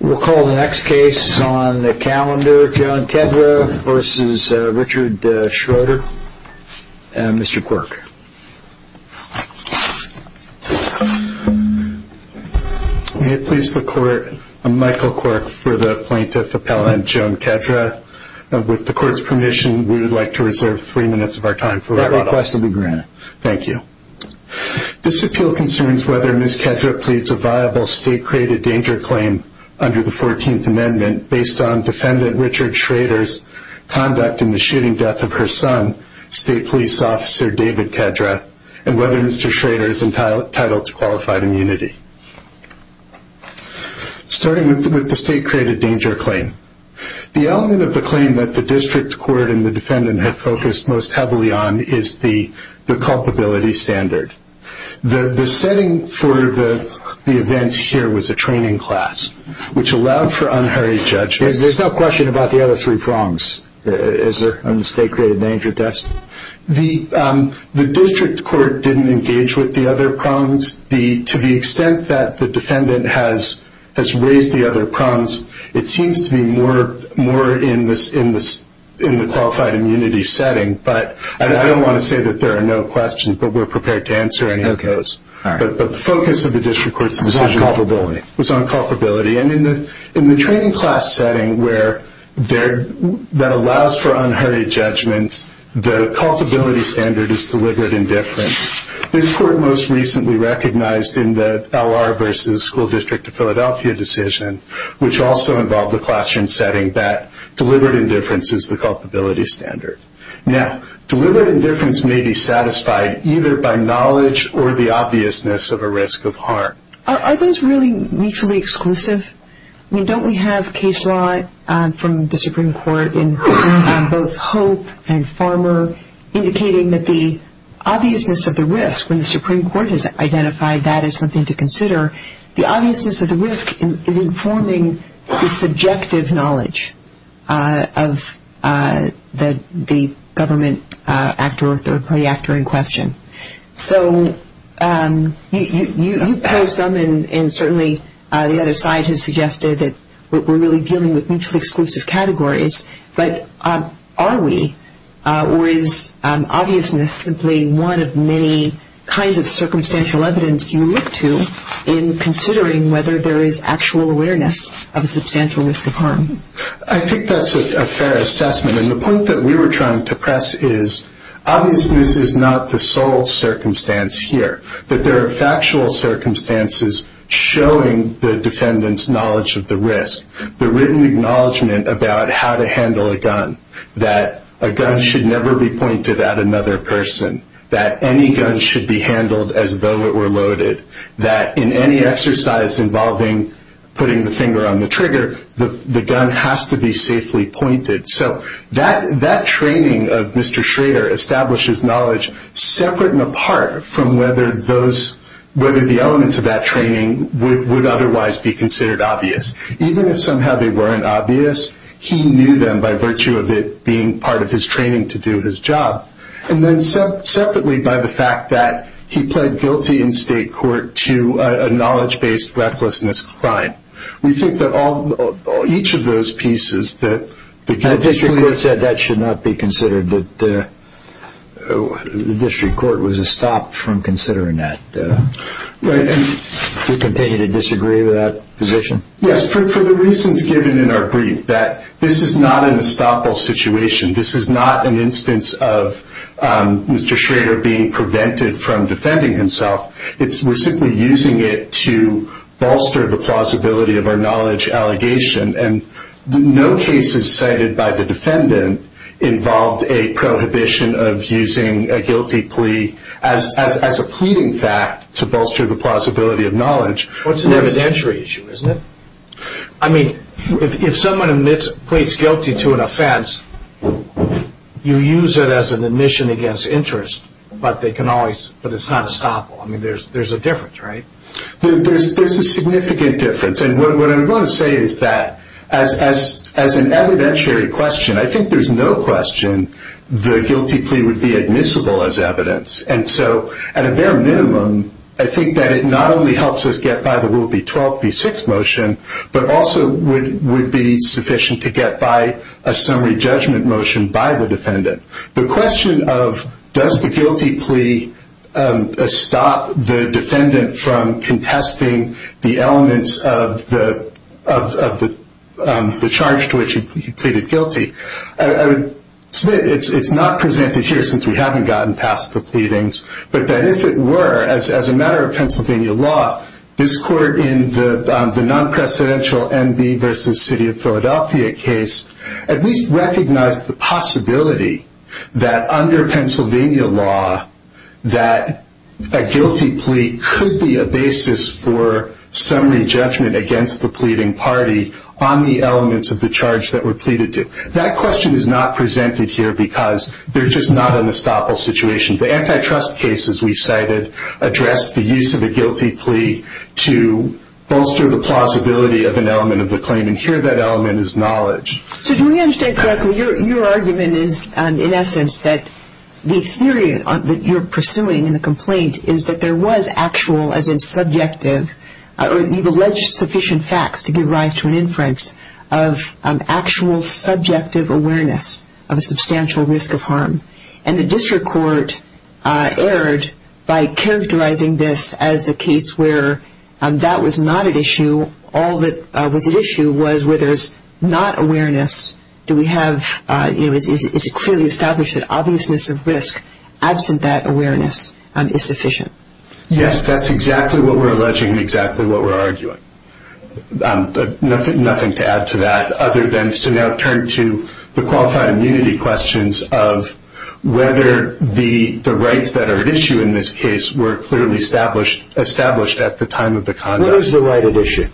We'll call the next case on the calendar, Joan Kedra v. Richard Schroeter, Mr. Quirk. May it please the Court, I'm Michael Quirk for the Plaintiff Appellant, Joan Kedra. With the Court's permission, we would like to reserve three minutes of our time. That request will be granted. Thank you. This appeal concerns whether Ms. Kedra pleads a viable state-created danger claim under the 14th Amendment based on defendant Richard Schroeter's conduct in the shooting death of her son, State Police Officer David Kedra, and whether Mr. Schroeter is entitled to qualified immunity. Starting with the state-created danger claim, the element of the claim that the District Court and the defendant have focused most heavily on is the culpability standard. The setting for the events here was a training class, which allowed for unhurried judgment. There's no question about the other three prongs, is there, on the state-created danger test? The District Court didn't engage with the other prongs. To the extent that the defendant has raised the other prongs, it seems to be more in the qualified immunity setting. I don't want to say that there are no questions, but we're prepared to answer any of those. The focus of the District Court's decision was on culpability. In the training class setting that allows for unhurried judgments, the culpability standard is deliberate indifference. This Court most recently recognized in the L.R. v. School District of Philadelphia decision, which also involved the classroom setting, that deliberate indifference is the culpability standard. Now, deliberate indifference may be satisfied either by knowledge or the obviousness of a risk of harm. Are those really mutually exclusive? I mean, don't we have case law from the Supreme Court in both Hope and Farmer indicating that the obviousness of the risk, when the Supreme Court has identified that as something to consider, the obviousness of the risk is informing the subjective knowledge of the government actor or third-party actor in question. So you pose them, and certainly the other side has suggested that we're really dealing with mutually exclusive categories. But are we, or is obviousness simply one of many kinds of circumstantial evidence you look to in considering whether there is actual awareness of a substantial risk of harm? I think that's a fair assessment. And the point that we were trying to press is obviousness is not the sole circumstance here, but there are factual circumstances showing the defendant's knowledge of the risk. The written acknowledgment about how to handle a gun, that a gun should never be pointed at another person, that any gun should be handled as though it were loaded, that in any exercise involving putting the finger on the trigger, the gun has to be safely pointed. So that training of Mr. Schrader establishes knowledge separate and apart from whether those, whether the elements of that training would otherwise be considered obvious. Even if somehow they weren't obvious, he knew them by virtue of it being part of his training to do his job. And then separately by the fact that he pled guilty in state court to a knowledge-based recklessness crime. We think that all, each of those pieces that the guilty plea… And the district court said that should not be considered, that the district court was stopped from considering that. Right. Do you continue to disagree with that position? Yes, for the reasons given in our brief, that this is not an estoppel situation. This is not an instance of Mr. Schrader being prevented from defending himself. We're simply using it to bolster the plausibility of our knowledge allegation. And no cases cited by the defendant involved a prohibition of using a guilty plea as a pleading fact to bolster the plausibility of knowledge. Well, it's an evidentiary issue, isn't it? I mean, if someone pleads guilty to an offense, you use it as an admission against interest. But they can always, but it's not estoppel. I mean, there's a difference, right? There's a significant difference. And what I'm going to say is that as an evidentiary question, I think there's no question the guilty plea would be admissible as evidence. And so at a bare minimum, I think that it not only helps us get by the Rule B-12, B-6 motion, but also would be sufficient to get by a summary judgment motion by the defendant. The question of does the guilty plea stop the defendant from contesting the elements of the charge to which he pleaded guilty, I would submit it's not presented here since we haven't gotten past the pleadings, but that if it were, as a matter of Pennsylvania law, this court in the non-precedential NB versus City of Philadelphia case at least recognized the possibility that under Pennsylvania law that a guilty plea could be a basis for summary judgment against the pleading party on the elements of the charge that were pleaded to. That question is not presented here because there's just not an estoppel situation. The antitrust cases we cited addressed the use of a guilty plea to bolster the plausibility of an element of the claim, and here that element is knowledge. So do we understand correctly, your argument is in essence that the theory that you're pursuing in the complaint is that there was actual, as in subjective, or you've alleged sufficient facts to give rise to an inference of actual subjective awareness of a substantial risk of harm, and the district court erred by characterizing this as a case where that was not at issue, all that was at issue was whether it's not awareness, do we have, is it clearly established that obviousness of risk absent that awareness is sufficient? Yes, that's exactly what we're alleging and exactly what we're arguing. Nothing to add to that other than to now turn to the qualified immunity questions of whether the rights that are at issue in this case were clearly established at the time of the conduct. What is the right at issue?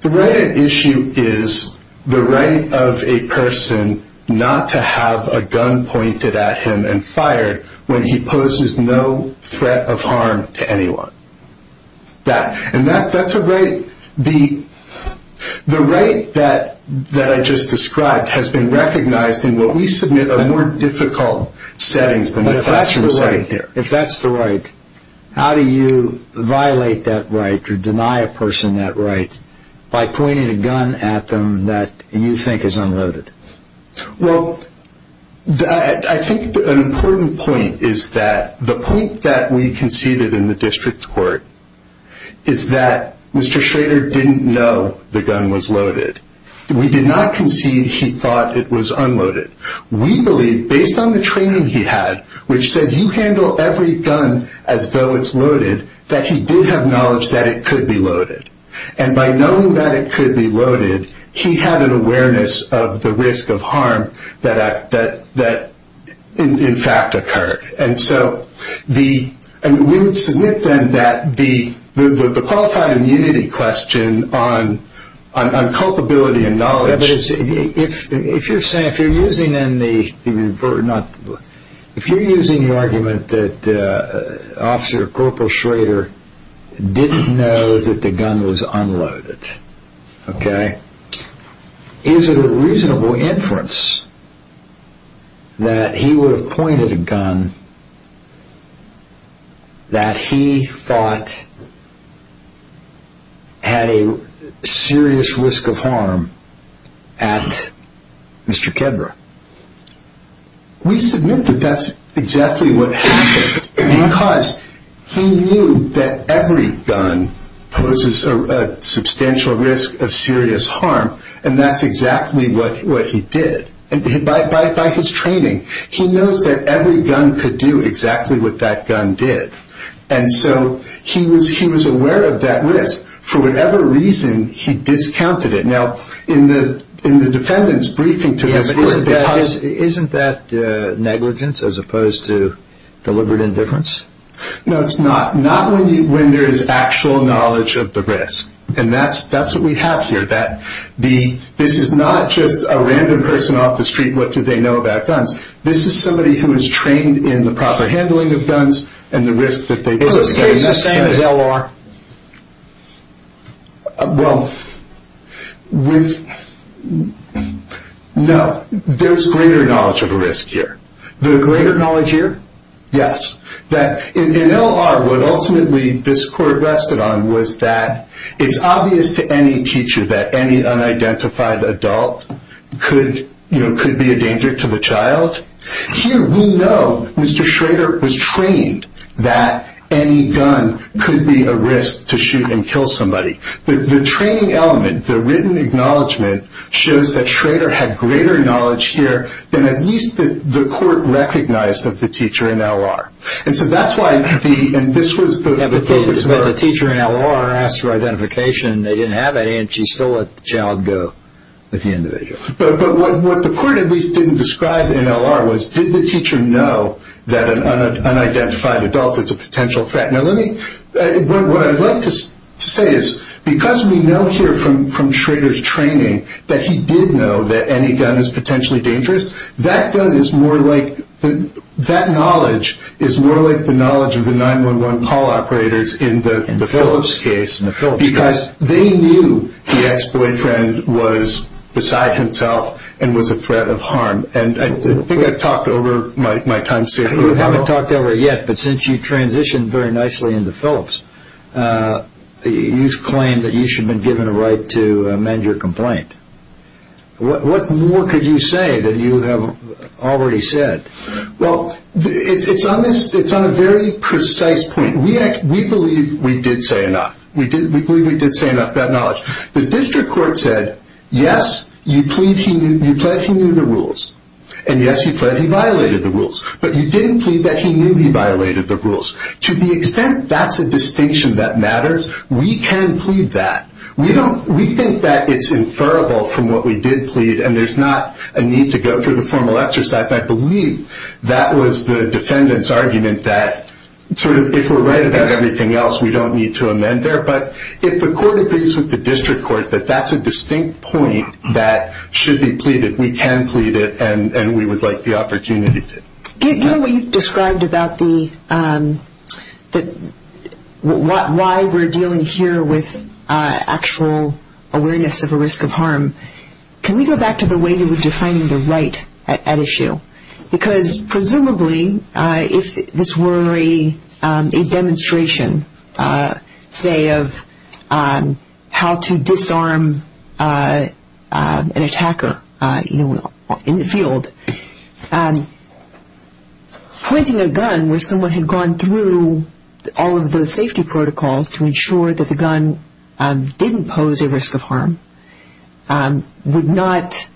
The right at issue is the right of a person not to have a gun pointed at him and fired when he poses no threat of harm to anyone. And that's a right, the right that I just described has been recognized in what we submit are more difficult settings than the classroom setting here. If that's the right, how do you violate that right or deny a person that right by pointing a gun at them that you think is unloaded? Well, I think an important point is that the point that we conceded in the district court is that Mr. Schrader didn't know the gun was loaded. We did not concede he thought it was unloaded. We believe based on the training he had which said you handle every gun as though it's loaded that he did have knowledge that it could be loaded. And by knowing that it could be loaded, he had an awareness of the risk of harm that in fact occurred. And so we would submit then that the qualified immunity question on culpability and knowledge If you're using the argument that Officer Corporal Schrader didn't know that the gun was unloaded, okay, is it a reasonable inference that he would have pointed a gun that he thought had a serious risk of harm at Mr. Kedra? We submit that that's exactly what happened because he knew that every gun poses a substantial risk of serious harm and that's exactly what he did. By his training, he knows that every gun could do exactly what that gun did. And so he was aware of that risk. For whatever reason, he discounted it. Now in the defendant's briefing, isn't that negligence as opposed to deliberate indifference? No, it's not. Not when there is actual knowledge of the risk. And that's what we have here. This is not just a random person off the street, what do they know about guns? This is somebody who is trained in the proper handling of guns and the risk that they pose. So it's the same as L.R.? Well, no. There's greater knowledge of risk here. Greater knowledge here? Yes. In L.R., what ultimately this court rested on was that it's obvious to any teacher that any unidentified adult could be a danger to the child. Here we know Mr. Schrader was trained that any gun could be a risk to shoot and kill somebody. The training element, the written acknowledgment, shows that Schrader had greater knowledge here than at least the court recognized of the teacher in L.R. And so that's why the... But the teacher in L.R. asked for identification and they didn't have any and she still let the child go with the individual. But what the court at least didn't describe in L.R. was, did the teacher know that an unidentified adult is a potential threat? Now, what I'd like to say is because we know here from Schrader's training that he did know that any gun is potentially dangerous, that knowledge is more like the knowledge of the 911 call operators in the Phillips case because they knew the ex-boyfriend was beside himself and was a threat of harm. And I think I've talked over my time. You haven't talked over it yet, but since you transitioned very nicely into Phillips, you've claimed that you should have been given a right to amend your complaint. What more could you say that you have already said? Well, it's on a very precise point. We believe we did say enough. We believe we did say enough bad knowledge. The district court said, yes, you plead he knew the rules, and yes, you plead he violated the rules, but you didn't plead that he knew he violated the rules. To the extent that's a distinction that matters, we can plead that. We think that it's inferable from what we did plead and there's not a need to go through the formal exercise. And I believe that was the defendant's argument that sort of if we're right about everything else, we don't need to amend there. But if the court agrees with the district court that that's a distinct point that should be pleaded, we can plead it and we would like the opportunity to. Given what you've described about why we're dealing here with actual awareness of a risk of harm, can we go back to the way that we're defining the right at issue? Because presumably if this were a demonstration, say, of how to disarm an attacker in the field, pointing a gun where someone had gone through all of those safety protocols to ensure that the gun didn't pose a risk of harm would not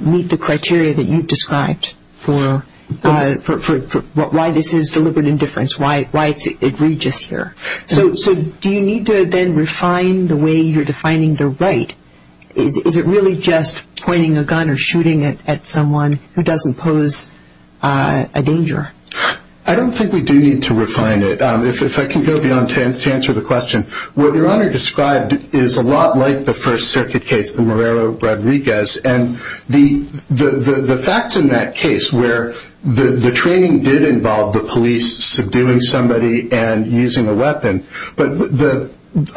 meet the criteria that you've described for why this is deliberate indifference, why it's egregious here. So do you need to then refine the way you're defining the right? Is it really just pointing a gun or shooting at someone who doesn't pose a danger? I don't think we do need to refine it. If I can go beyond to answer the question, what Your Honor described is a lot like the First Circuit case, the Morero-Rodriguez, and the facts in that case where the training did involve the police subduing somebody and using a weapon, but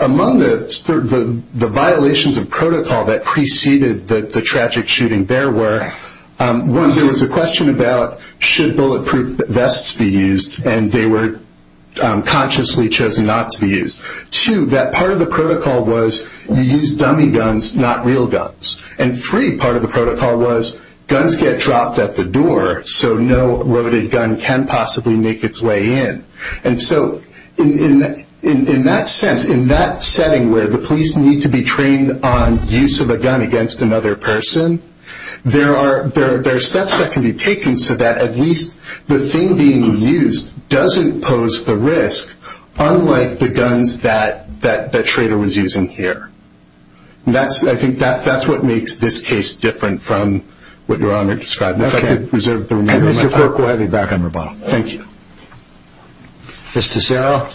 among the violations of protocol that preceded the tragic shooting there were, one, there was a question about should bulletproof vests be used, and they were consciously chosen not to be used. Two, that part of the protocol was you use dummy guns, not real guns. And three, part of the protocol was guns get dropped at the door, so no loaded gun can possibly make its way in. And so in that sense, in that setting where the police need to be trained on use of a gun against another person, there are steps that can be taken so that at least the thing being used doesn't pose the risk, unlike the guns that the traitor was using here. And I think that's what makes this case different from what Your Honor described. If I could reserve the remainder of my time. Okay. And Mr. Porco, I'll be back on rebuttal. Thank you. Ms. Tussero.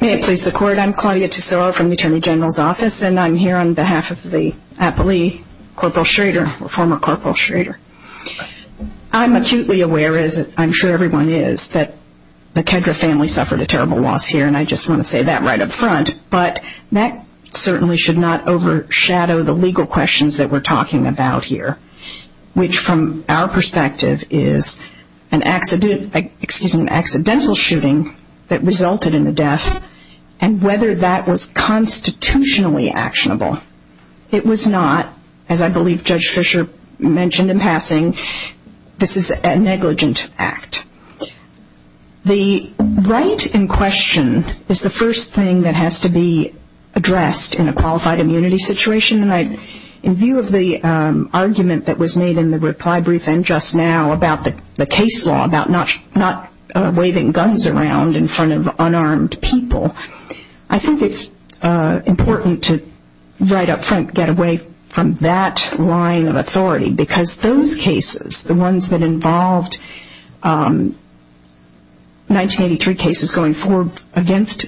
May it please the Court. I'm Claudia Tussero from the Attorney General's Office, and I'm here on behalf of the Appley Corporal Schrader, former Corporal Schrader. I'm acutely aware, as I'm sure everyone is, that the Kedra family suffered a terrible loss here, and I just want to say that right up front. But that certainly should not overshadow the legal questions that we're talking about here, which from our perspective is an accidental shooting that resulted in the death, and whether that was constitutionally actionable. It was not. As I believe Judge Fischer mentioned in passing, this is a negligent act. The right in question is the first thing that has to be addressed in a qualified immunity situation, and in view of the argument that was made in the reply brief and just now about the case law, about not waving guns around in front of unarmed people, I think it's important to right up front get away from that line of authority, because those cases, the ones that involved 1983 cases going forward against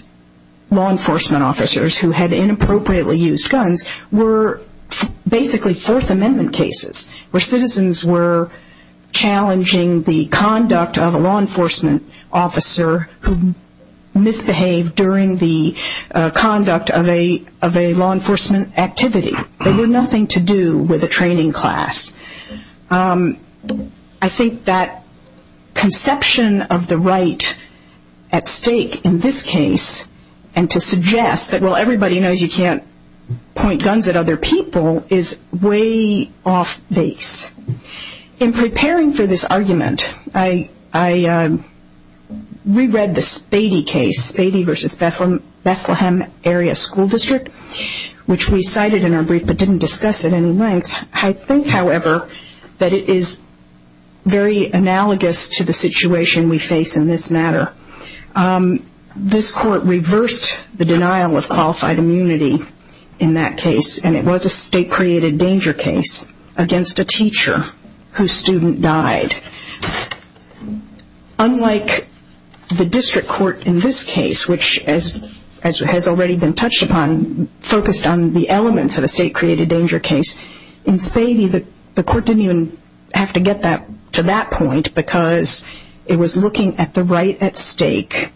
law enforcement officers who had inappropriately used guns, were basically Fourth Amendment cases where citizens were challenging the conduct of a law enforcement officer who misbehaved during the conduct of a law enforcement activity. They had nothing to do with a training class. I think that conception of the right at stake in this case, and to suggest that, well, everybody knows you can't point guns at other people, is way off base. In preparing for this argument, I reread the Spady case, Spady v. Bethlehem Area School District, which we cited in our brief but didn't discuss at any length. I think, however, that it is very analogous to the situation we face in this matter. This court reversed the denial of qualified immunity in that case, and it was a state-created danger case against a teacher whose student died. Unlike the district court in this case, which, as has already been touched upon, focused on the elements of a state-created danger case, in Spady the court didn't even have to get to that point because it was looking at the right at stake.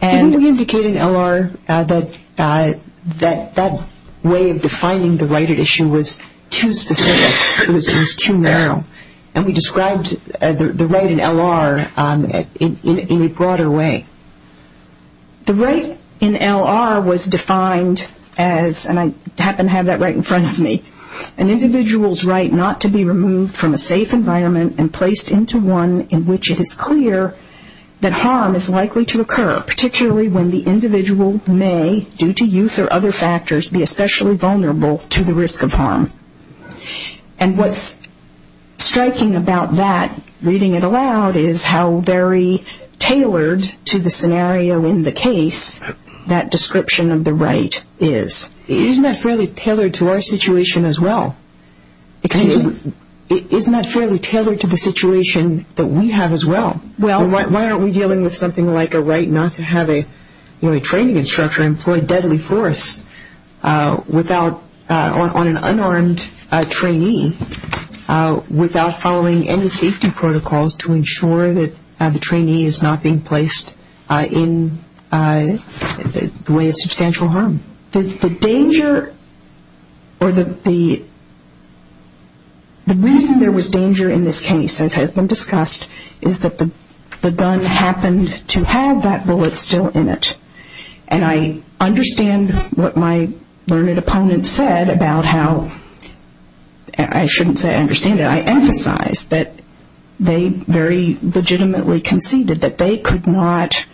Didn't we indicate in L.R. that that way of defining the right at issue was too specific? It was too narrow. And we described the right in L.R. in a broader way. The right in L.R. was defined as, and I happen to have that right in front of me, an individual's right not to be removed from a safe environment and placed into one in which it is clear that harm is likely to occur, particularly when the individual may, due to youth or other factors, be especially vulnerable to the risk of harm. And what's striking about that, reading it aloud, is how very tailored to the scenario in the case that description of the right is. Isn't that fairly tailored to our situation as well? Excuse me? Isn't that fairly tailored to the situation that we have as well? Why aren't we dealing with something like a right not to have a training instructor employ deadly force on an unarmed trainee without following any safety protocols to ensure that the trainee is not being placed in the way of substantial harm? The reason there was danger in this case, as has been discussed, is that the gun happened to have that bullet still in it. And I understand what my learned opponent said about how, I shouldn't say I understand it, I emphasize that they very legitimately conceded that they could not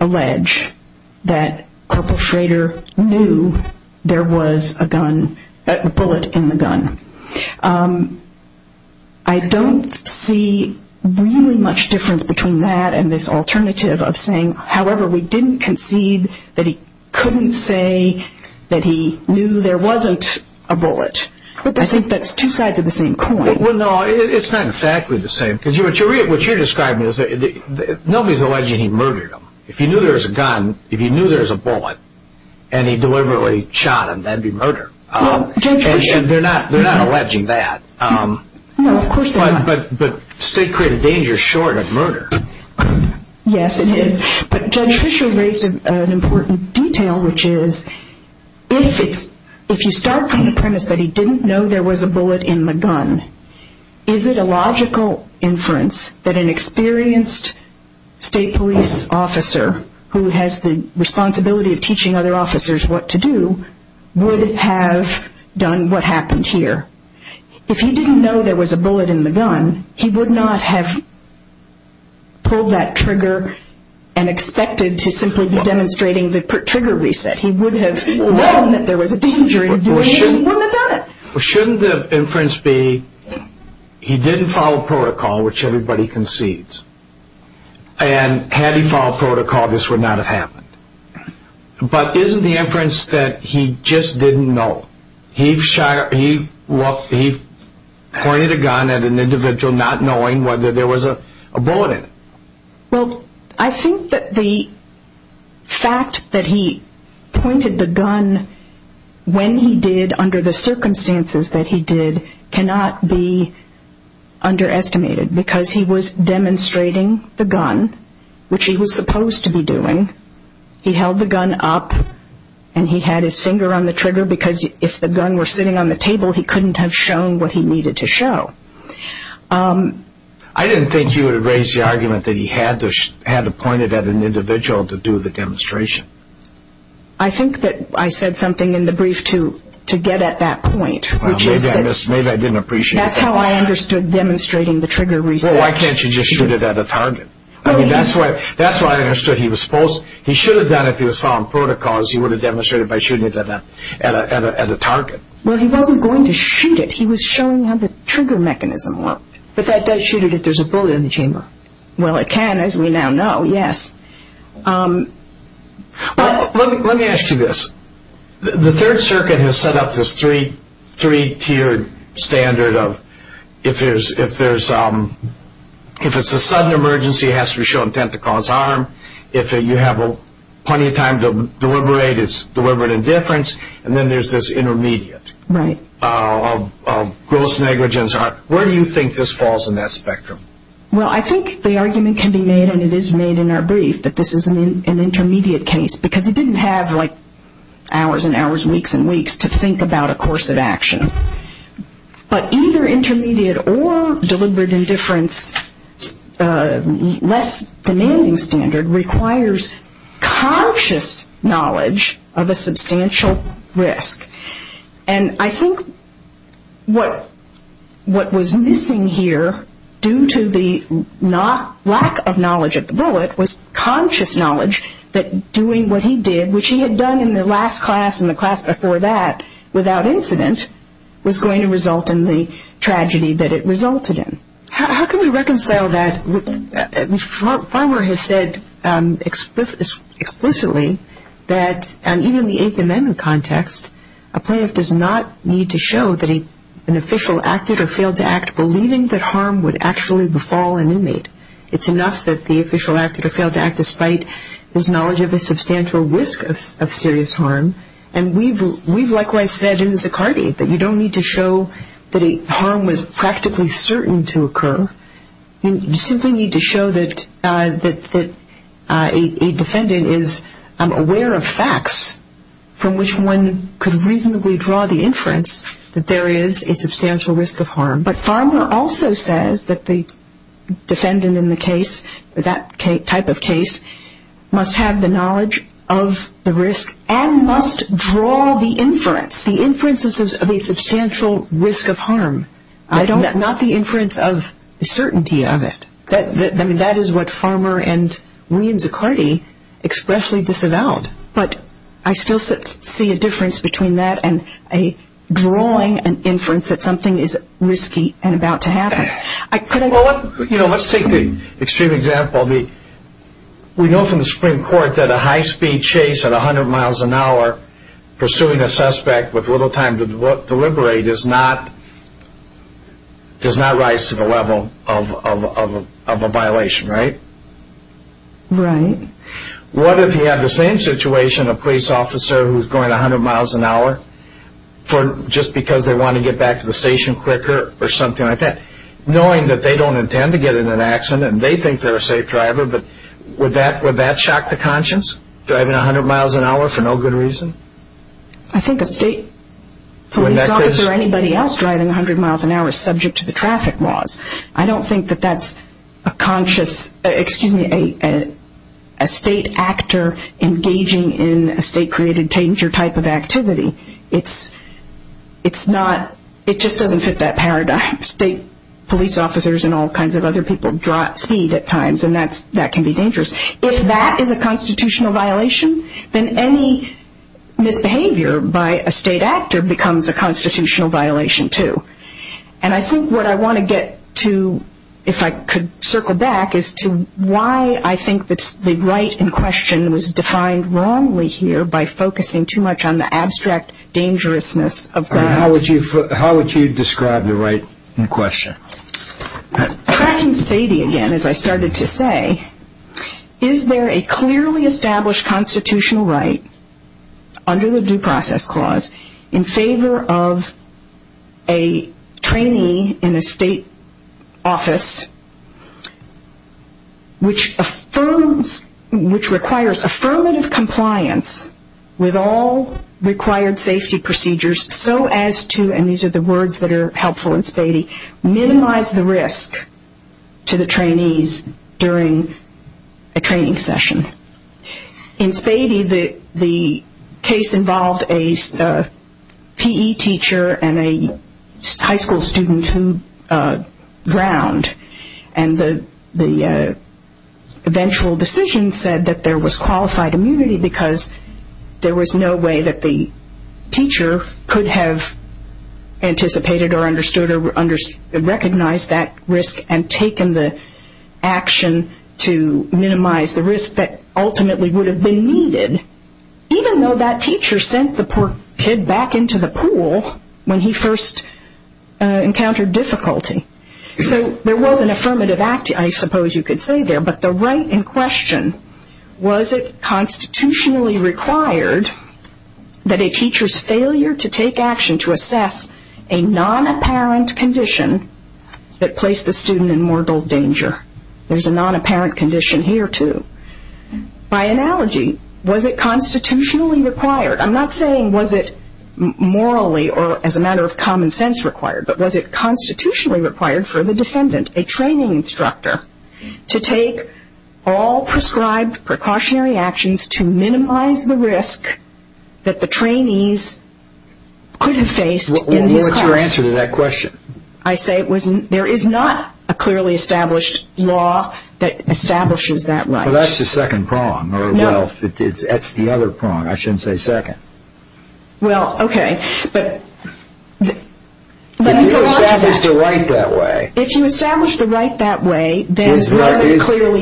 allege that Corporal Schrader knew there was a bullet in the gun. I don't see really much difference between that and this alternative of saying, however, we didn't concede that he couldn't say that he knew there wasn't a bullet. I think that's two sides of the same coin. Well, no, it's not exactly the same. Because what you're describing is that nobody's alleging he murdered him. If he knew there was a gun, if he knew there was a bullet, and he deliberately shot him, that would be murder. They're not alleging that. But state created danger short of murder. Yes, it is. But Judge Fisher raised an important detail, which is, if you start from the premise that he didn't know there was a bullet in the gun, is it a logical inference that an experienced state police officer, who has the responsibility of teaching other officers what to do, would have done what happened here? If he didn't know there was a bullet in the gun, he would not have pulled that trigger and expected to simply be demonstrating the trigger reset. He would have known that there was a danger in doing it. He wouldn't have done it. Shouldn't the inference be, he didn't follow protocol, which everybody concedes. And had he followed protocol, this would not have happened. But isn't the inference that he just didn't know? He pointed a gun at an individual not knowing whether there was a bullet in it. Well, I think that the fact that he pointed the gun when he did, under the circumstances that he did, cannot be underestimated because he was demonstrating the gun, which he was supposed to be doing. He held the gun up, and he had his finger on the trigger because if the gun were sitting on the table, he couldn't have shown what he needed to show. I didn't think you would have raised the argument that he had to point it at an individual to do the demonstration. I think that I said something in the brief to get at that point. Well, maybe I didn't appreciate that. That's how I understood demonstrating the trigger reset. Well, why can't you just shoot it at a target? I mean, that's why I understood he was supposed, he should have done it if he was following protocols. He would have demonstrated by shooting it at a target. Well, he wasn't going to shoot it. He was showing how the trigger mechanism worked. But that does shoot it if there's a bullet in the chamber. Well, it can, as we now know, yes. Let me ask you this. The Third Circuit has set up this three-tiered standard of if it's a sudden emergency, it has to show intent to cause harm. If you have plenty of time to deliberate, it's deliberate indifference. And then there's this intermediate of gross negligence. Where do you think this falls in that spectrum? Well, I think the argument can be made, and it is made in our brief, that this is an intermediate case because he didn't have, like, hours and hours, weeks and weeks to think about a course of action. But either intermediate or deliberate indifference, less demanding standard, requires conscious knowledge of a substantial risk. And I think what was missing here, due to the lack of knowledge of the bullet, was conscious knowledge that doing what he did, which he had done in the last class and the class before that, without incident, was going to result in the tragedy that it resulted in. How can we reconcile that? Farmer has said explicitly that even in the Eighth Amendment context, a plaintiff does not need to show that an official acted or failed to act believing that harm would actually befall an inmate. It's enough that the official acted or failed to act despite his knowledge of a substantial risk of serious harm. And we've likewise said in Zicardi that you don't need to show that harm was practically certain to occur. You simply need to show that a defendant is aware of facts from which one could reasonably draw the inference that there is a substantial risk of harm. But Farmer also says that the defendant in the case, that type of case, must have the knowledge of the risk and must draw the inference, the inferences of a substantial risk of harm, not the inference of certainty of it. I mean, that is what Farmer and we in Zicardi expressly disavowed. But I still see a difference between that and drawing an inference that something is risky and about to happen. Let's take the extreme example. We know from the Supreme Court that a high-speed chase at 100 miles an hour pursuing a suspect with little time to deliberate does not rise to the level of a violation, right? Right. What if you had the same situation, a police officer who's going 100 miles an hour just because they want to get back to the station quicker or something like that, knowing that they don't intend to get in an accident and they think they're a safe driver, but would that shock the conscience, driving 100 miles an hour for no good reason? I think a state police officer or anybody else driving 100 miles an hour is subject to the traffic laws. I don't think that that's a state actor engaging in a state-created danger type of activity. It just doesn't fit that paradigm. State police officers and all kinds of other people drop speed at times, and that can be dangerous. If that is a constitutional violation, then any misbehavior by a state actor becomes a constitutional violation too. And I think what I want to get to, if I could circle back, is to why I think the right in question was defined wrongly here by focusing too much on the abstract dangerousness of violence. How would you describe the right in question? Tracking spady again, as I started to say, is there a clearly established constitutional right under the Due Process Clause in favor of a trainee in a state office which requires affirmative compliance with all required safety procedures so as to, and these are the words that are helpful in spady, minimize the risk to the trainees during a training session. In spady, the case involved a PE teacher and a high school student who drowned. And the eventual decision said that there was qualified immunity because there was no way that the teacher could have anticipated or understood or recognized that risk and taken the action to minimize the risk that ultimately would have been needed, even though that teacher sent the poor kid back into the pool when he first encountered difficulty. So there was an affirmative act, I suppose you could say there, but the right in question, was it constitutionally required that a teacher's failure to take action to assess a non-apparent condition that placed the student in mortal danger? There's a non-apparent condition here, too. By analogy, was it constitutionally required? I'm not saying was it morally or as a matter of common sense required, but was it constitutionally required for the defendant, a training instructor, to take all prescribed precautionary actions to minimize the risk that the trainees could have faced in this class? What's your answer to that question? I say there is not a clearly established law that establishes that right. Well, that's the second prong, or wealth. No. That's the other prong. I shouldn't say second. Well, okay, but... If you establish the right that way... There is not a clearly established...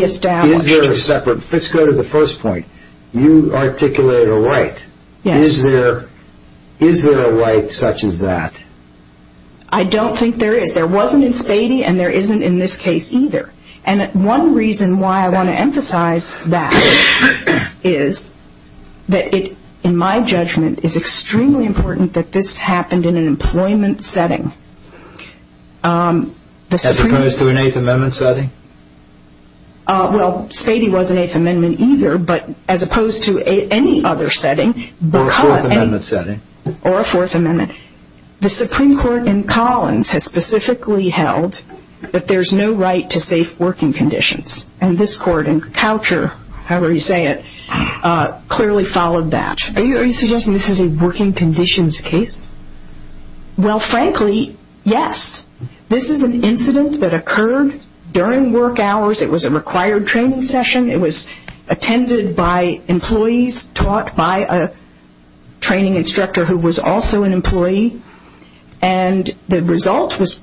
Is there a separate... Let's go to the first point. You articulate a right. Yes. Is there a right such as that? I don't think there is. There wasn't in Spady, and there isn't in this case either. And one reason why I want to emphasize that is that it, in my judgment, is extremely important that this happened in an employment setting. As opposed to an Eighth Amendment setting? Well, Spady was an Eighth Amendment either, but as opposed to any other setting... Or a Fourth Amendment setting. Or a Fourth Amendment. The Supreme Court in Collins has specifically held that there's no right to safe working conditions, and this court in Coucher, however you say it, clearly followed that. Are you suggesting this is a working conditions case? Well, frankly, yes. This is an incident that occurred during work hours. It was a required training session. It was attended by employees, taught by a training instructor who was also an employee, and the result was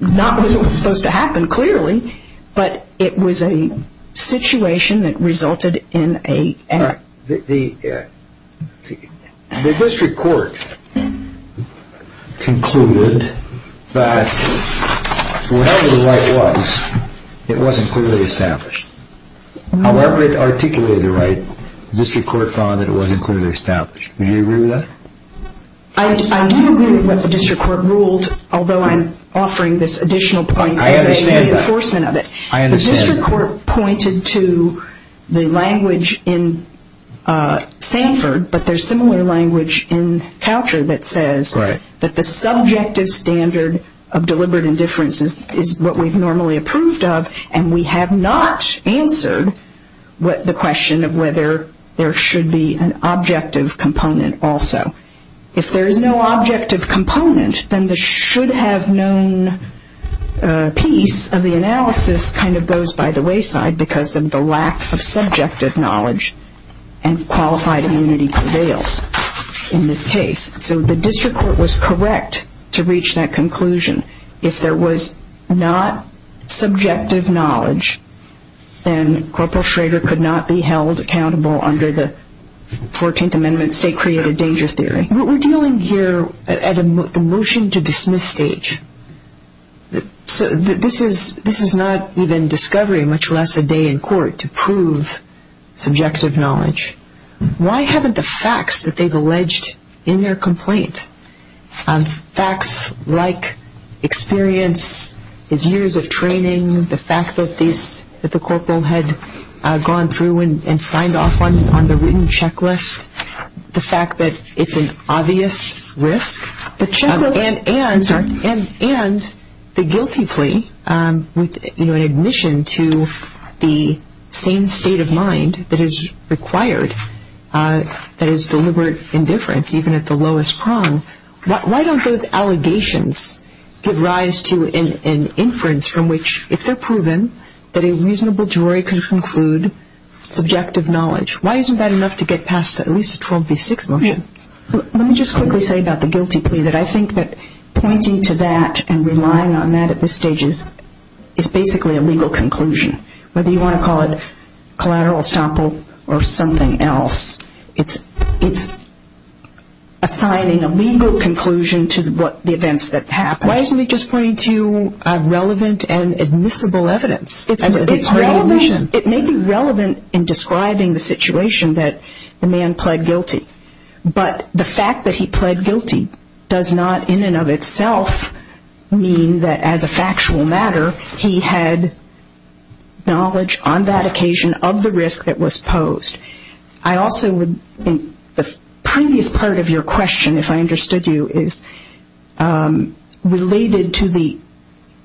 not what was supposed to happen, clearly, but it was a situation that resulted in a... The district court concluded that whatever the right was, it wasn't clearly established. However it articulated the right, the district court found that it wasn't clearly established. Do you agree with that? I do agree with what the district court ruled, although I'm offering this additional point... I understand that. ...as a reinforcement of it. I understand. The district court pointed to the language in Sanford, but there's similar language in Coucher that says that the subjective standard of deliberate indifference is what we've normally approved of, and we have not answered the question of whether there should be an objective component also. If there is no objective component, then the should-have-known piece of the analysis kind of goes by the wayside because of the lack of subjective knowledge, and qualified immunity prevails in this case. So the district court was correct to reach that conclusion. If there was not subjective knowledge, then Corporal Schrader could not be held accountable under the 14th Amendment state-created danger theory. We're dealing here at the motion-to-dismiss stage. This is not even discovery, much less a day in court to prove subjective knowledge. Why haven't the facts that they've alleged in their complaint, facts like experience, his years of training, the fact that the corporal had gone through and signed off on the written checklist, the fact that it's an obvious risk, and the guilty plea with an admission to the same state of mind that is required, that is deliberate indifference even at the lowest prong, why don't those allegations give rise to an inference from which, if they're proven that a reasonable jury can conclude subjective knowledge, why isn't that enough to get past at least a 12B6 motion? Let me just quickly say about the guilty plea that I think that pointing to that and relying on that at this stage is basically a legal conclusion. Whether you want to call it collateral estoppel or something else, it's assigning a legal conclusion to the events that happened. Why isn't it just pointing to relevant and admissible evidence? It may be relevant in describing the situation that the man pled guilty, but the fact that he pled guilty does not in and of itself mean that as a factual matter he had knowledge on that occasion of the risk that was posed. I also would think the previous part of your question, if I understood you, is related to the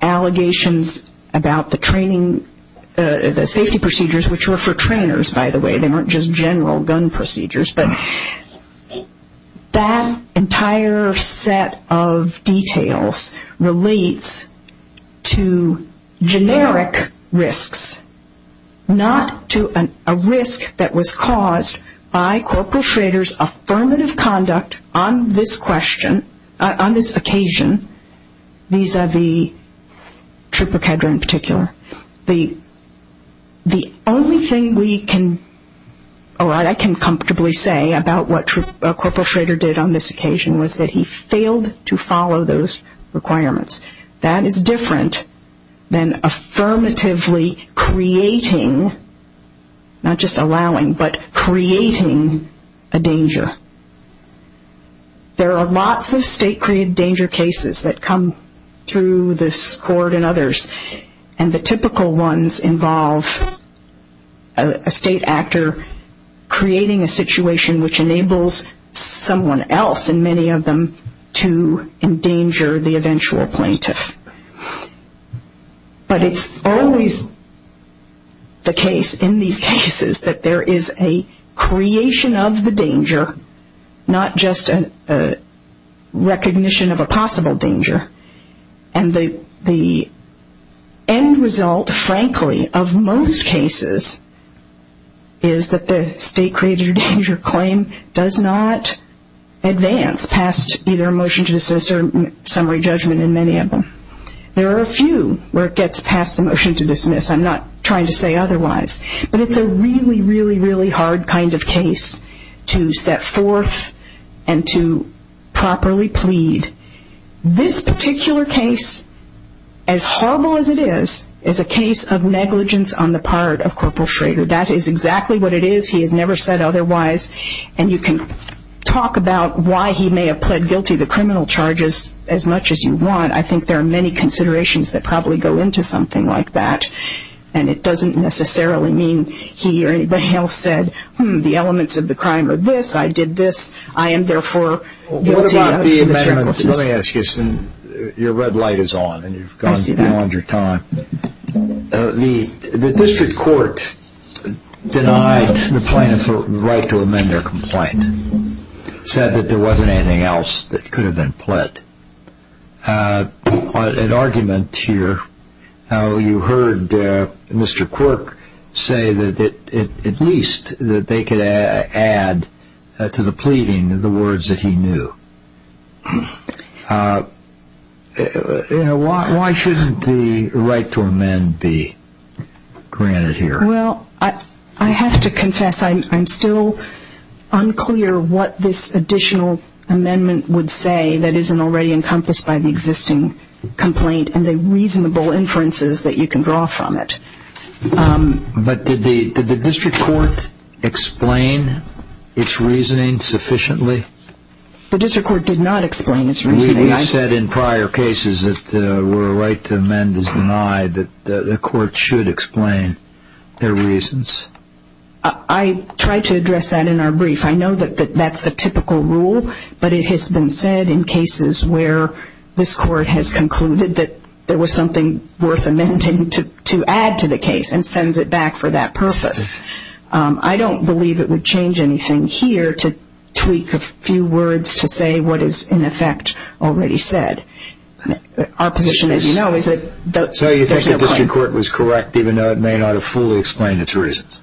allegations about the safety procedures, which were for trainers, by the way. They weren't just general gun procedures. But that entire set of details relates to generic risks, not to a risk that was caused by Corporal Schrader's affirmative conduct on this question, on this occasion, vis-a-vis Trooper Kedra in particular. The only thing we can or I can comfortably say about what Corporal Schrader did on this occasion was that he failed to follow those requirements. That is different than affirmatively creating, not just allowing, but creating a danger. There are lots of state-created danger cases that come through this court and others, and the typical ones involve a state actor creating a situation which enables someone else and many of them to endanger the eventual plaintiff. But it's always the case in these cases that there is a creation of the danger, not just a recognition of a possible danger. And the end result, frankly, of most cases is that the state-created danger claim does not advance past either a motion to dismiss or summary judgment in many of them. There are a few where it gets past the motion to dismiss. I'm not trying to say otherwise. But it's a really, really, really hard kind of case to set forth and to properly plead. This particular case, as horrible as it is, is a case of negligence on the part of Corporal Schrader. That is exactly what it is. He has never said otherwise. And you can talk about why he may have pled guilty to criminal charges as much as you want. I think there are many considerations that probably go into something like that. And it doesn't necessarily mean he or anybody else said, hmm, the elements of the crime are this. I did this. I am, therefore, guilty. What about the amendments? Let me ask you something. Your red light is on. I see that. And you've gone beyond your time. The district court denied the plaintiffs the right to amend their complaint, said that there wasn't anything else that could have been pled. An argument here. You heard Mr. Quirk say that at least they could add to the pleading the words that he knew. Why shouldn't the right to amend be granted here? Well, I have to confess I'm still unclear what this additional amendment would say that isn't already encompassed by the existing complaint and the reasonable inferences that you can draw from it. But did the district court explain its reasoning sufficiently? The district court did not explain its reasoning. We've said in prior cases that where a right to amend is denied, the court should explain their reasons. I tried to address that in our brief. I know that that's the typical rule, but it has been said in cases where this court has concluded that there was something worth amending to add to the case and sends it back for that purpose. I don't believe it would change anything here to tweak a few words to say what is, in effect, already said. Our position, as you know, is that there's no point. So you think the district court was correct, even though it may not have fully explained its reasons?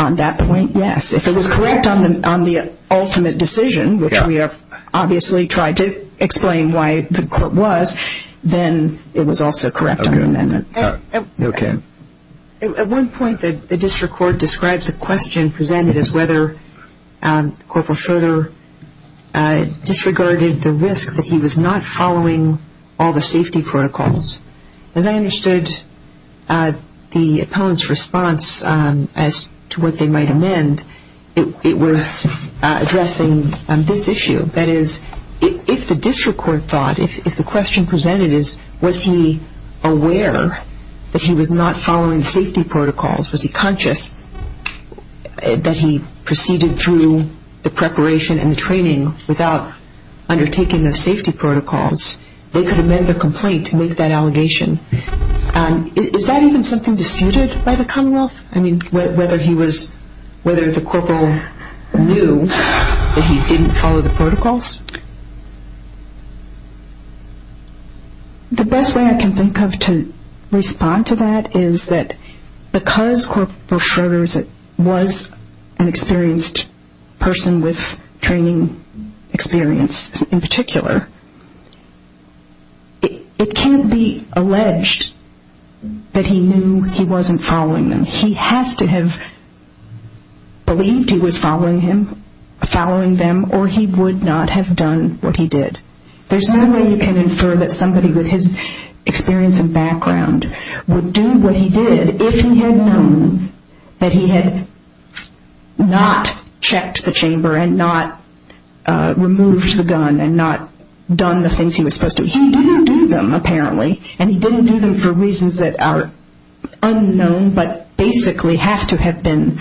On that point, yes. If it was correct on the ultimate decision, which we have obviously tried to explain why the court was, then it was also correct on the amendment. Okay. At one point, the district court described the question presented as whether Corporal Schroeder disregarded the risk that he was not following all the safety protocols. As I understood the opponent's response as to what they might amend, it was addressing this issue. That is, if the district court thought, if the question presented is, was he aware that he was not following the safety protocols, was he conscious that he proceeded through the preparation and the training without undertaking the safety protocols, they could amend the complaint to make that allegation. Is that even something disputed by the Commonwealth? I mean, whether he was, whether the corporal knew that he didn't follow the protocols? The best way I can think of to respond to that is that because Corporal Schroeder was an experienced person dealing with training experience in particular, it can't be alleged that he knew he wasn't following them. He has to have believed he was following them or he would not have done what he did. There's no way you can infer that somebody with his experience and background would do what he did if he had known that he had not checked the chamber and not removed the gun and not done the things he was supposed to. He didn't do them, apparently, and he didn't do them for reasons that are unknown but basically have to have been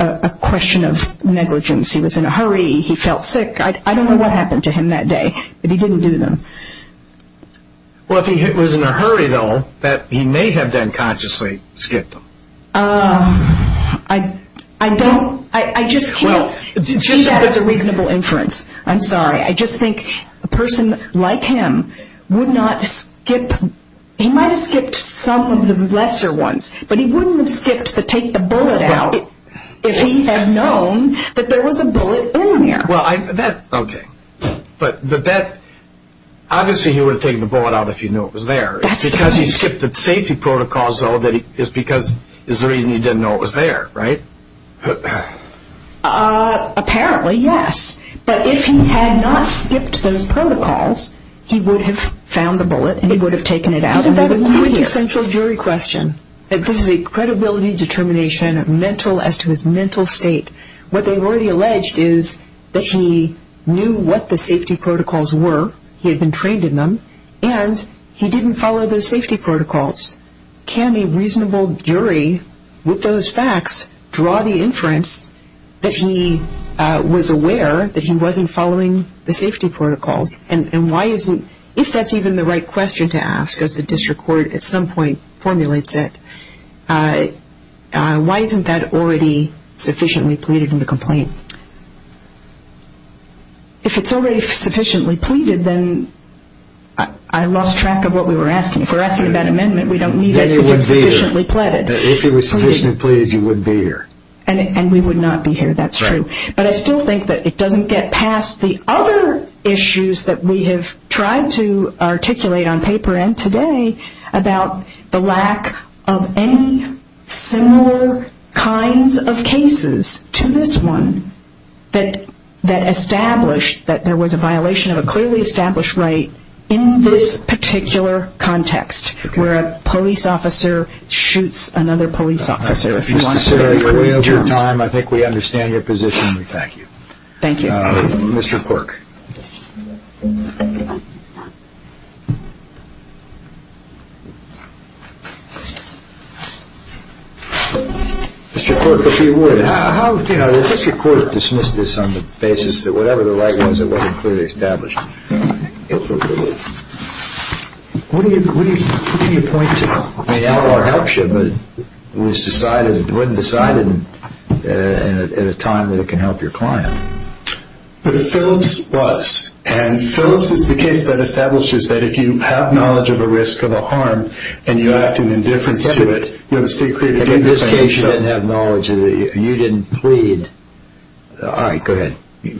a question of negligence. He was in a hurry, he felt sick. I don't know what happened to him that day, but he didn't do them. Well, if he was in a hurry, though, he may have then consciously skipped them. I don't, I just can't see that as a reasonable inference. I'm sorry, I just think a person like him would not skip, he might have skipped some of the lesser ones, but he wouldn't have skipped to take the bullet out if he had known that there was a bullet in there. Well, that, okay, but that, obviously he would have taken the bullet out if he knew it was there. That's the point. Because he skipped the safety protocols, though, is because, is the reason he didn't know it was there, right? Apparently, yes, but if he had not skipped those protocols, he would have found the bullet and he would have taken it out and he wouldn't be here. This is a quintessential jury question. This is a credibility determination, mental, as to his mental state. What they've already alleged is that he knew what the safety protocols were, he had been trained in them, and he didn't follow those safety protocols. Can a reasonable jury, with those facts, draw the inference that he was aware that he wasn't following the safety protocols? And why isn't, if that's even the right question to ask, as the district court at some point formulates it, why isn't that already sufficiently pleaded in the complaint? If it's already sufficiently pleaded, then I lost track of what we were asking. If we're asking about amendment, we don't need it if it's sufficiently pleaded. If it was sufficiently pleaded, you would be here. And we would not be here, that's true. But I still think that it doesn't get past the other issues that we have tried to articulate on paper and today about the lack of any similar kinds of cases to this one, that established that there was a violation of a clearly established right in this particular context, where a police officer shoots another police officer. I think we understand your position and we thank you. Thank you. Mr. Quirk. Mr. Quirk, if you would. How, you know, the district court dismissed this on the basis that whatever the right was, it wasn't clearly established. What do you point to? I mean, Alar helps you, but it was decided, it wasn't decided at a time that it can help your client. But Phillips was. And Phillips is the case that establishes that if you have knowledge of a risk of a homicide, and you act in indifference to it, you have a state-created danger. In this case, you didn't have knowledge, you didn't plead. All right, go ahead. We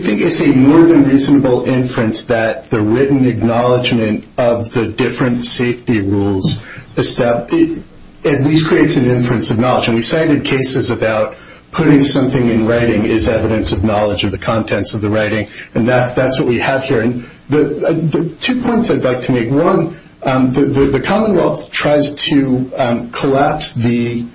think it's a more than reasonable inference that the written acknowledgement of the different safety rules at least creates an inference of knowledge. And we cited cases about putting something in writing is evidence of knowledge of the contents of the writing. And that's what we have here. Two points I'd like to make. One, the Commonwealth tries to collapse the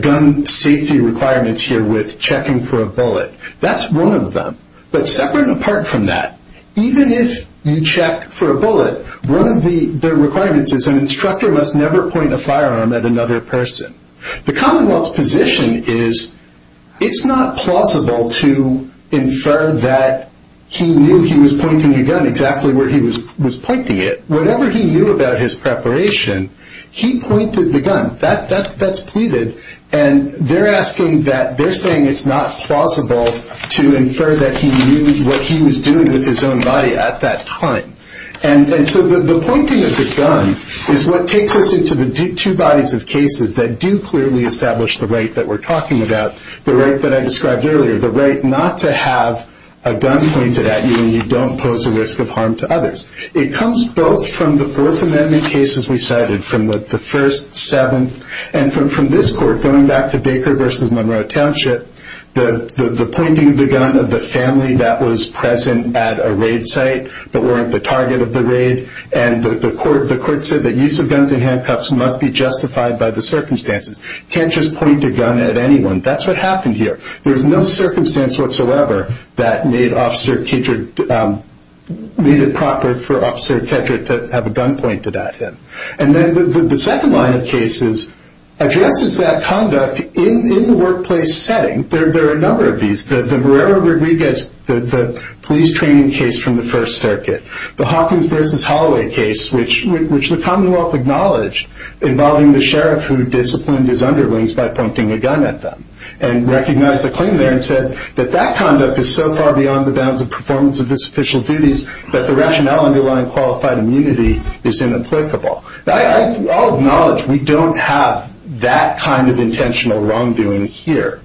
gun safety requirements here with checking for a bullet. That's one of them. But separate and apart from that, even if you check for a bullet, one of the requirements is an instructor must never point a firearm at another person. The Commonwealth's position is it's not plausible to infer that he knew he was pointing a gun exactly where he was pointing it. Whatever he knew about his preparation, he pointed the gun. That's pleaded. And they're saying it's not plausible to infer that he knew what he was doing with his own body at that time. And so the pointing of the gun is what takes us into the two bodies of cases that do clearly establish the right that we're talking about, the right that I described earlier, the right not to have a gun pointed at you when you don't pose a risk of harm to others. It comes both from the Fourth Amendment cases we cited, from the first seven, and from this court going back to Baker v. Monroe Township, the pointing of the gun of the family that was present at a raid site that weren't the target of the raid, and the court said that use of guns in handcuffs must be justified by the circumstances. You can't just point a gun at anyone. That's what happened here. There's no circumstance whatsoever that made it proper for Officer Kedrick to have a gun pointed at him. And then the second line of cases addresses that conduct in the workplace setting. There are a number of these. The Moreira-Rodriguez police training case from the First Circuit, the Hawkins v. Holloway case, which the Commonwealth acknowledged, involving the sheriff who disciplined his underlings by pointing a gun at them, and recognized the claim there and said that that conduct is so far beyond the bounds of performance of its official duties that the rationale underlying qualified immunity is inapplicable. I'll acknowledge we don't have that kind of intentional wrongdoing here.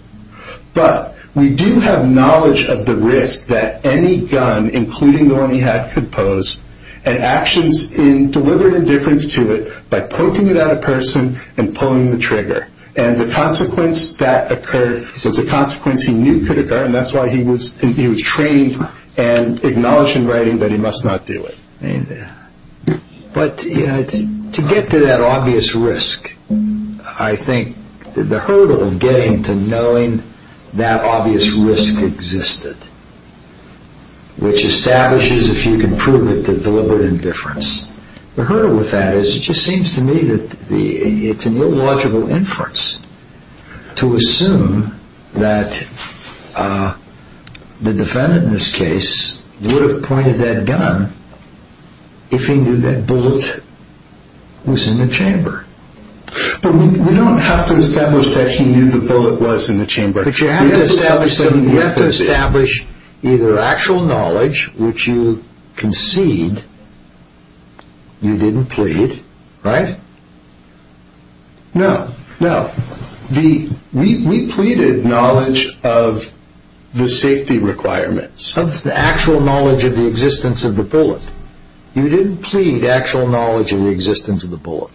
But we do have knowledge of the risk that any gun, including the one he had, could pose, and actions in deliberate indifference to it by poking it at a person and pulling the trigger. And the consequence that occurred was a consequence he knew could occur, and that's why he was trained and acknowledged in writing that he must not do it. But to get to that obvious risk, I think the hurdle of getting to knowing that obvious risk existed, which establishes, if you can prove it, the deliberate indifference, the hurdle with that is it just seems to me that it's an illogical inference to assume that the defendant in this case would have pointed that gun if he knew that bullet was in the chamber. But we don't have to establish that he knew the bullet was in the chamber. But you have to establish something. You have to establish either actual knowledge, which you concede you didn't plead, right? No, no. We pleaded knowledge of the safety requirements. Of the actual knowledge of the existence of the bullet. You didn't plead actual knowledge of the existence of the bullet.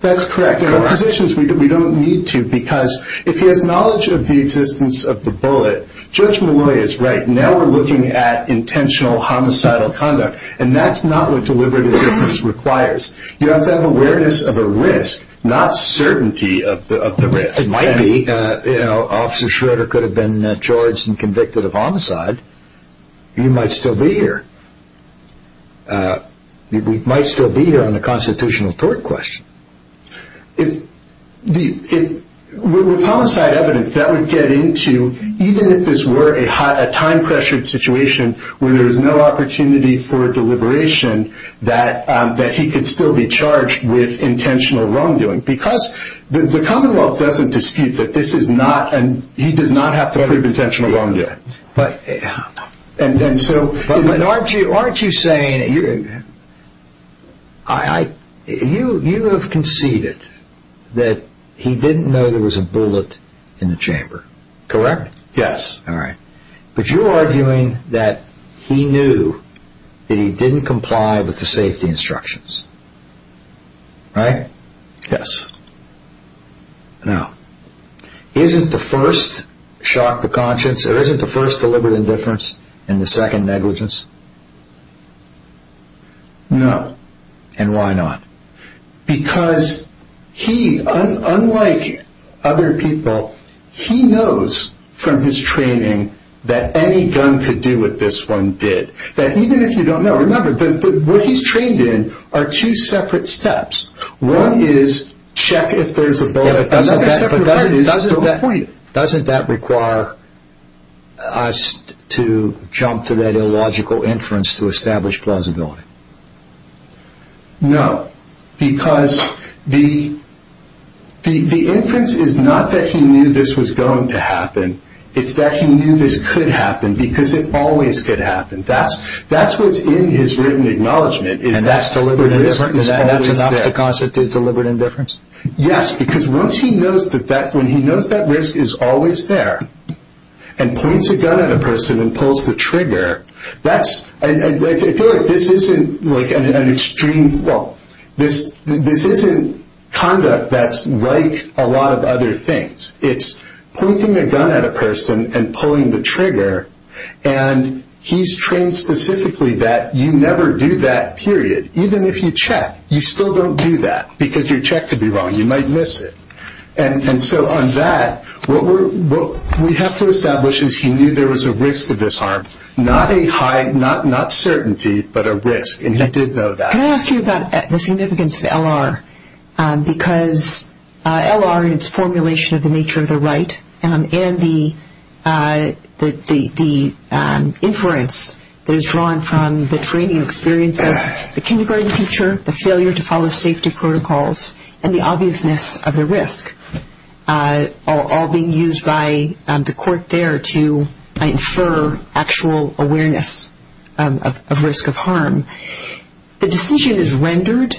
That's correct. In our positions, we don't need to, because if he has knowledge of the existence of the bullet, Judge Malloy is right. Now we're looking at intentional homicidal conduct, and that's not what deliberate indifference requires. You have to have awareness of a risk, not certainty of the risk. It might be. Officer Schroeder could have been charged and convicted of homicide. He might still be here. He might still be here on the constitutional court question. With homicide evidence, that would get into, even if this were a time-pressured situation where there is no opportunity for deliberation, that he could still be charged with intentional wrongdoing. Because the commonwealth doesn't dispute that this is not, and he does not have to prove intentional wrongdoing. But aren't you saying, you have conceded that he didn't know there was a bullet in the chamber, correct? Yes. All right. But you're arguing that he knew that he didn't comply with the safety instructions, right? Yes. Now, isn't the first shock the conscience, or isn't the first deliberate indifference, and the second negligence? No. And why not? Because he, unlike other people, he knows from his training that any gun could do what this one did. That even if you don't know, remember, what he's trained in are two separate steps. One is check if there's a bullet. But doesn't that require us to jump to that illogical inference to establish plausibility? No. Because the inference is not that he knew this was going to happen. It's that he knew this could happen, because it always could happen. That's what's in his written acknowledgment, is that the risk is always there. And that's deliberate indifference? Yes. Because once he knows that risk is always there, and points a gun at a person and pulls the trigger, I feel like this isn't conduct that's like a lot of other things. It's pointing a gun at a person and pulling the trigger, and he's trained specifically that you never do that, period. Even if you check, you still don't do that, because your check could be wrong. You might miss it. And so on that, what we have to establish is he knew there was a risk of this harm. Not a high, not certainty, but a risk, and he did know that. Can I ask you about the significance of L.R.? Because L.R. and its formulation of the nature of the right, and the inference that is drawn from the training experience of the kindergarten teacher, the failure to follow safety protocols, and the obviousness of the risk, all being used by the court there to infer actual awareness of risk of harm. The decision is rendered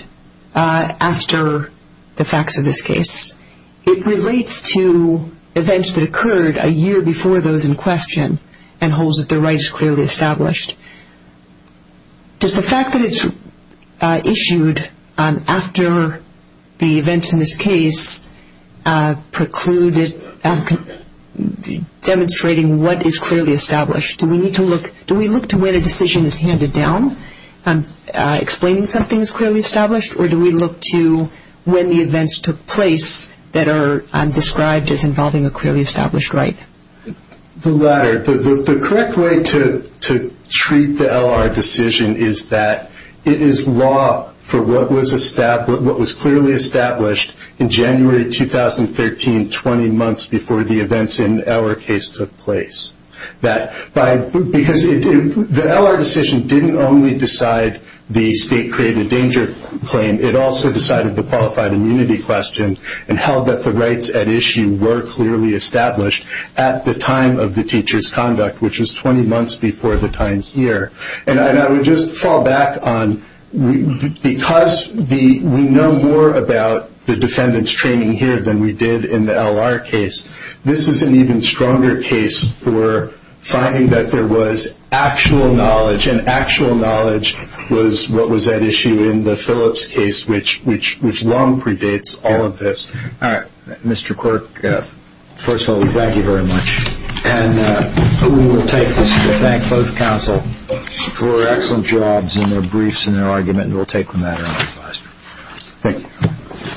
after the facts of this case. It relates to events that occurred a year before those in question and holds that the right is clearly established. Does the fact that it's issued after the events in this case preclude it demonstrating what is clearly established? Do we look to when a decision is handed down, explaining something is clearly established, or do we look to when the events took place that are described as involving a clearly established right? The latter. The correct way to treat the L.R. decision is that it is law for what was clearly established in January 2013, 20 months before the events in our case took place. Because the L.R. decision didn't only decide the state-created danger claim, it also decided the qualified immunity question and held that the rights at issue were clearly established at the time of the teacher's conduct, which was 20 months before the time here. And I would just fall back on because we know more about the defendant's training here than we did in the L.R. case, this is an even stronger case for finding that there was actual knowledge, and actual knowledge was what was at issue in the Phillips case, which long predates all of this. All right. Mr. Quirk, first of all, we thank you very much. And we will take this to thank both counsel for excellent jobs in their briefs and their argument, and we'll take the matter under advisement. Thank you.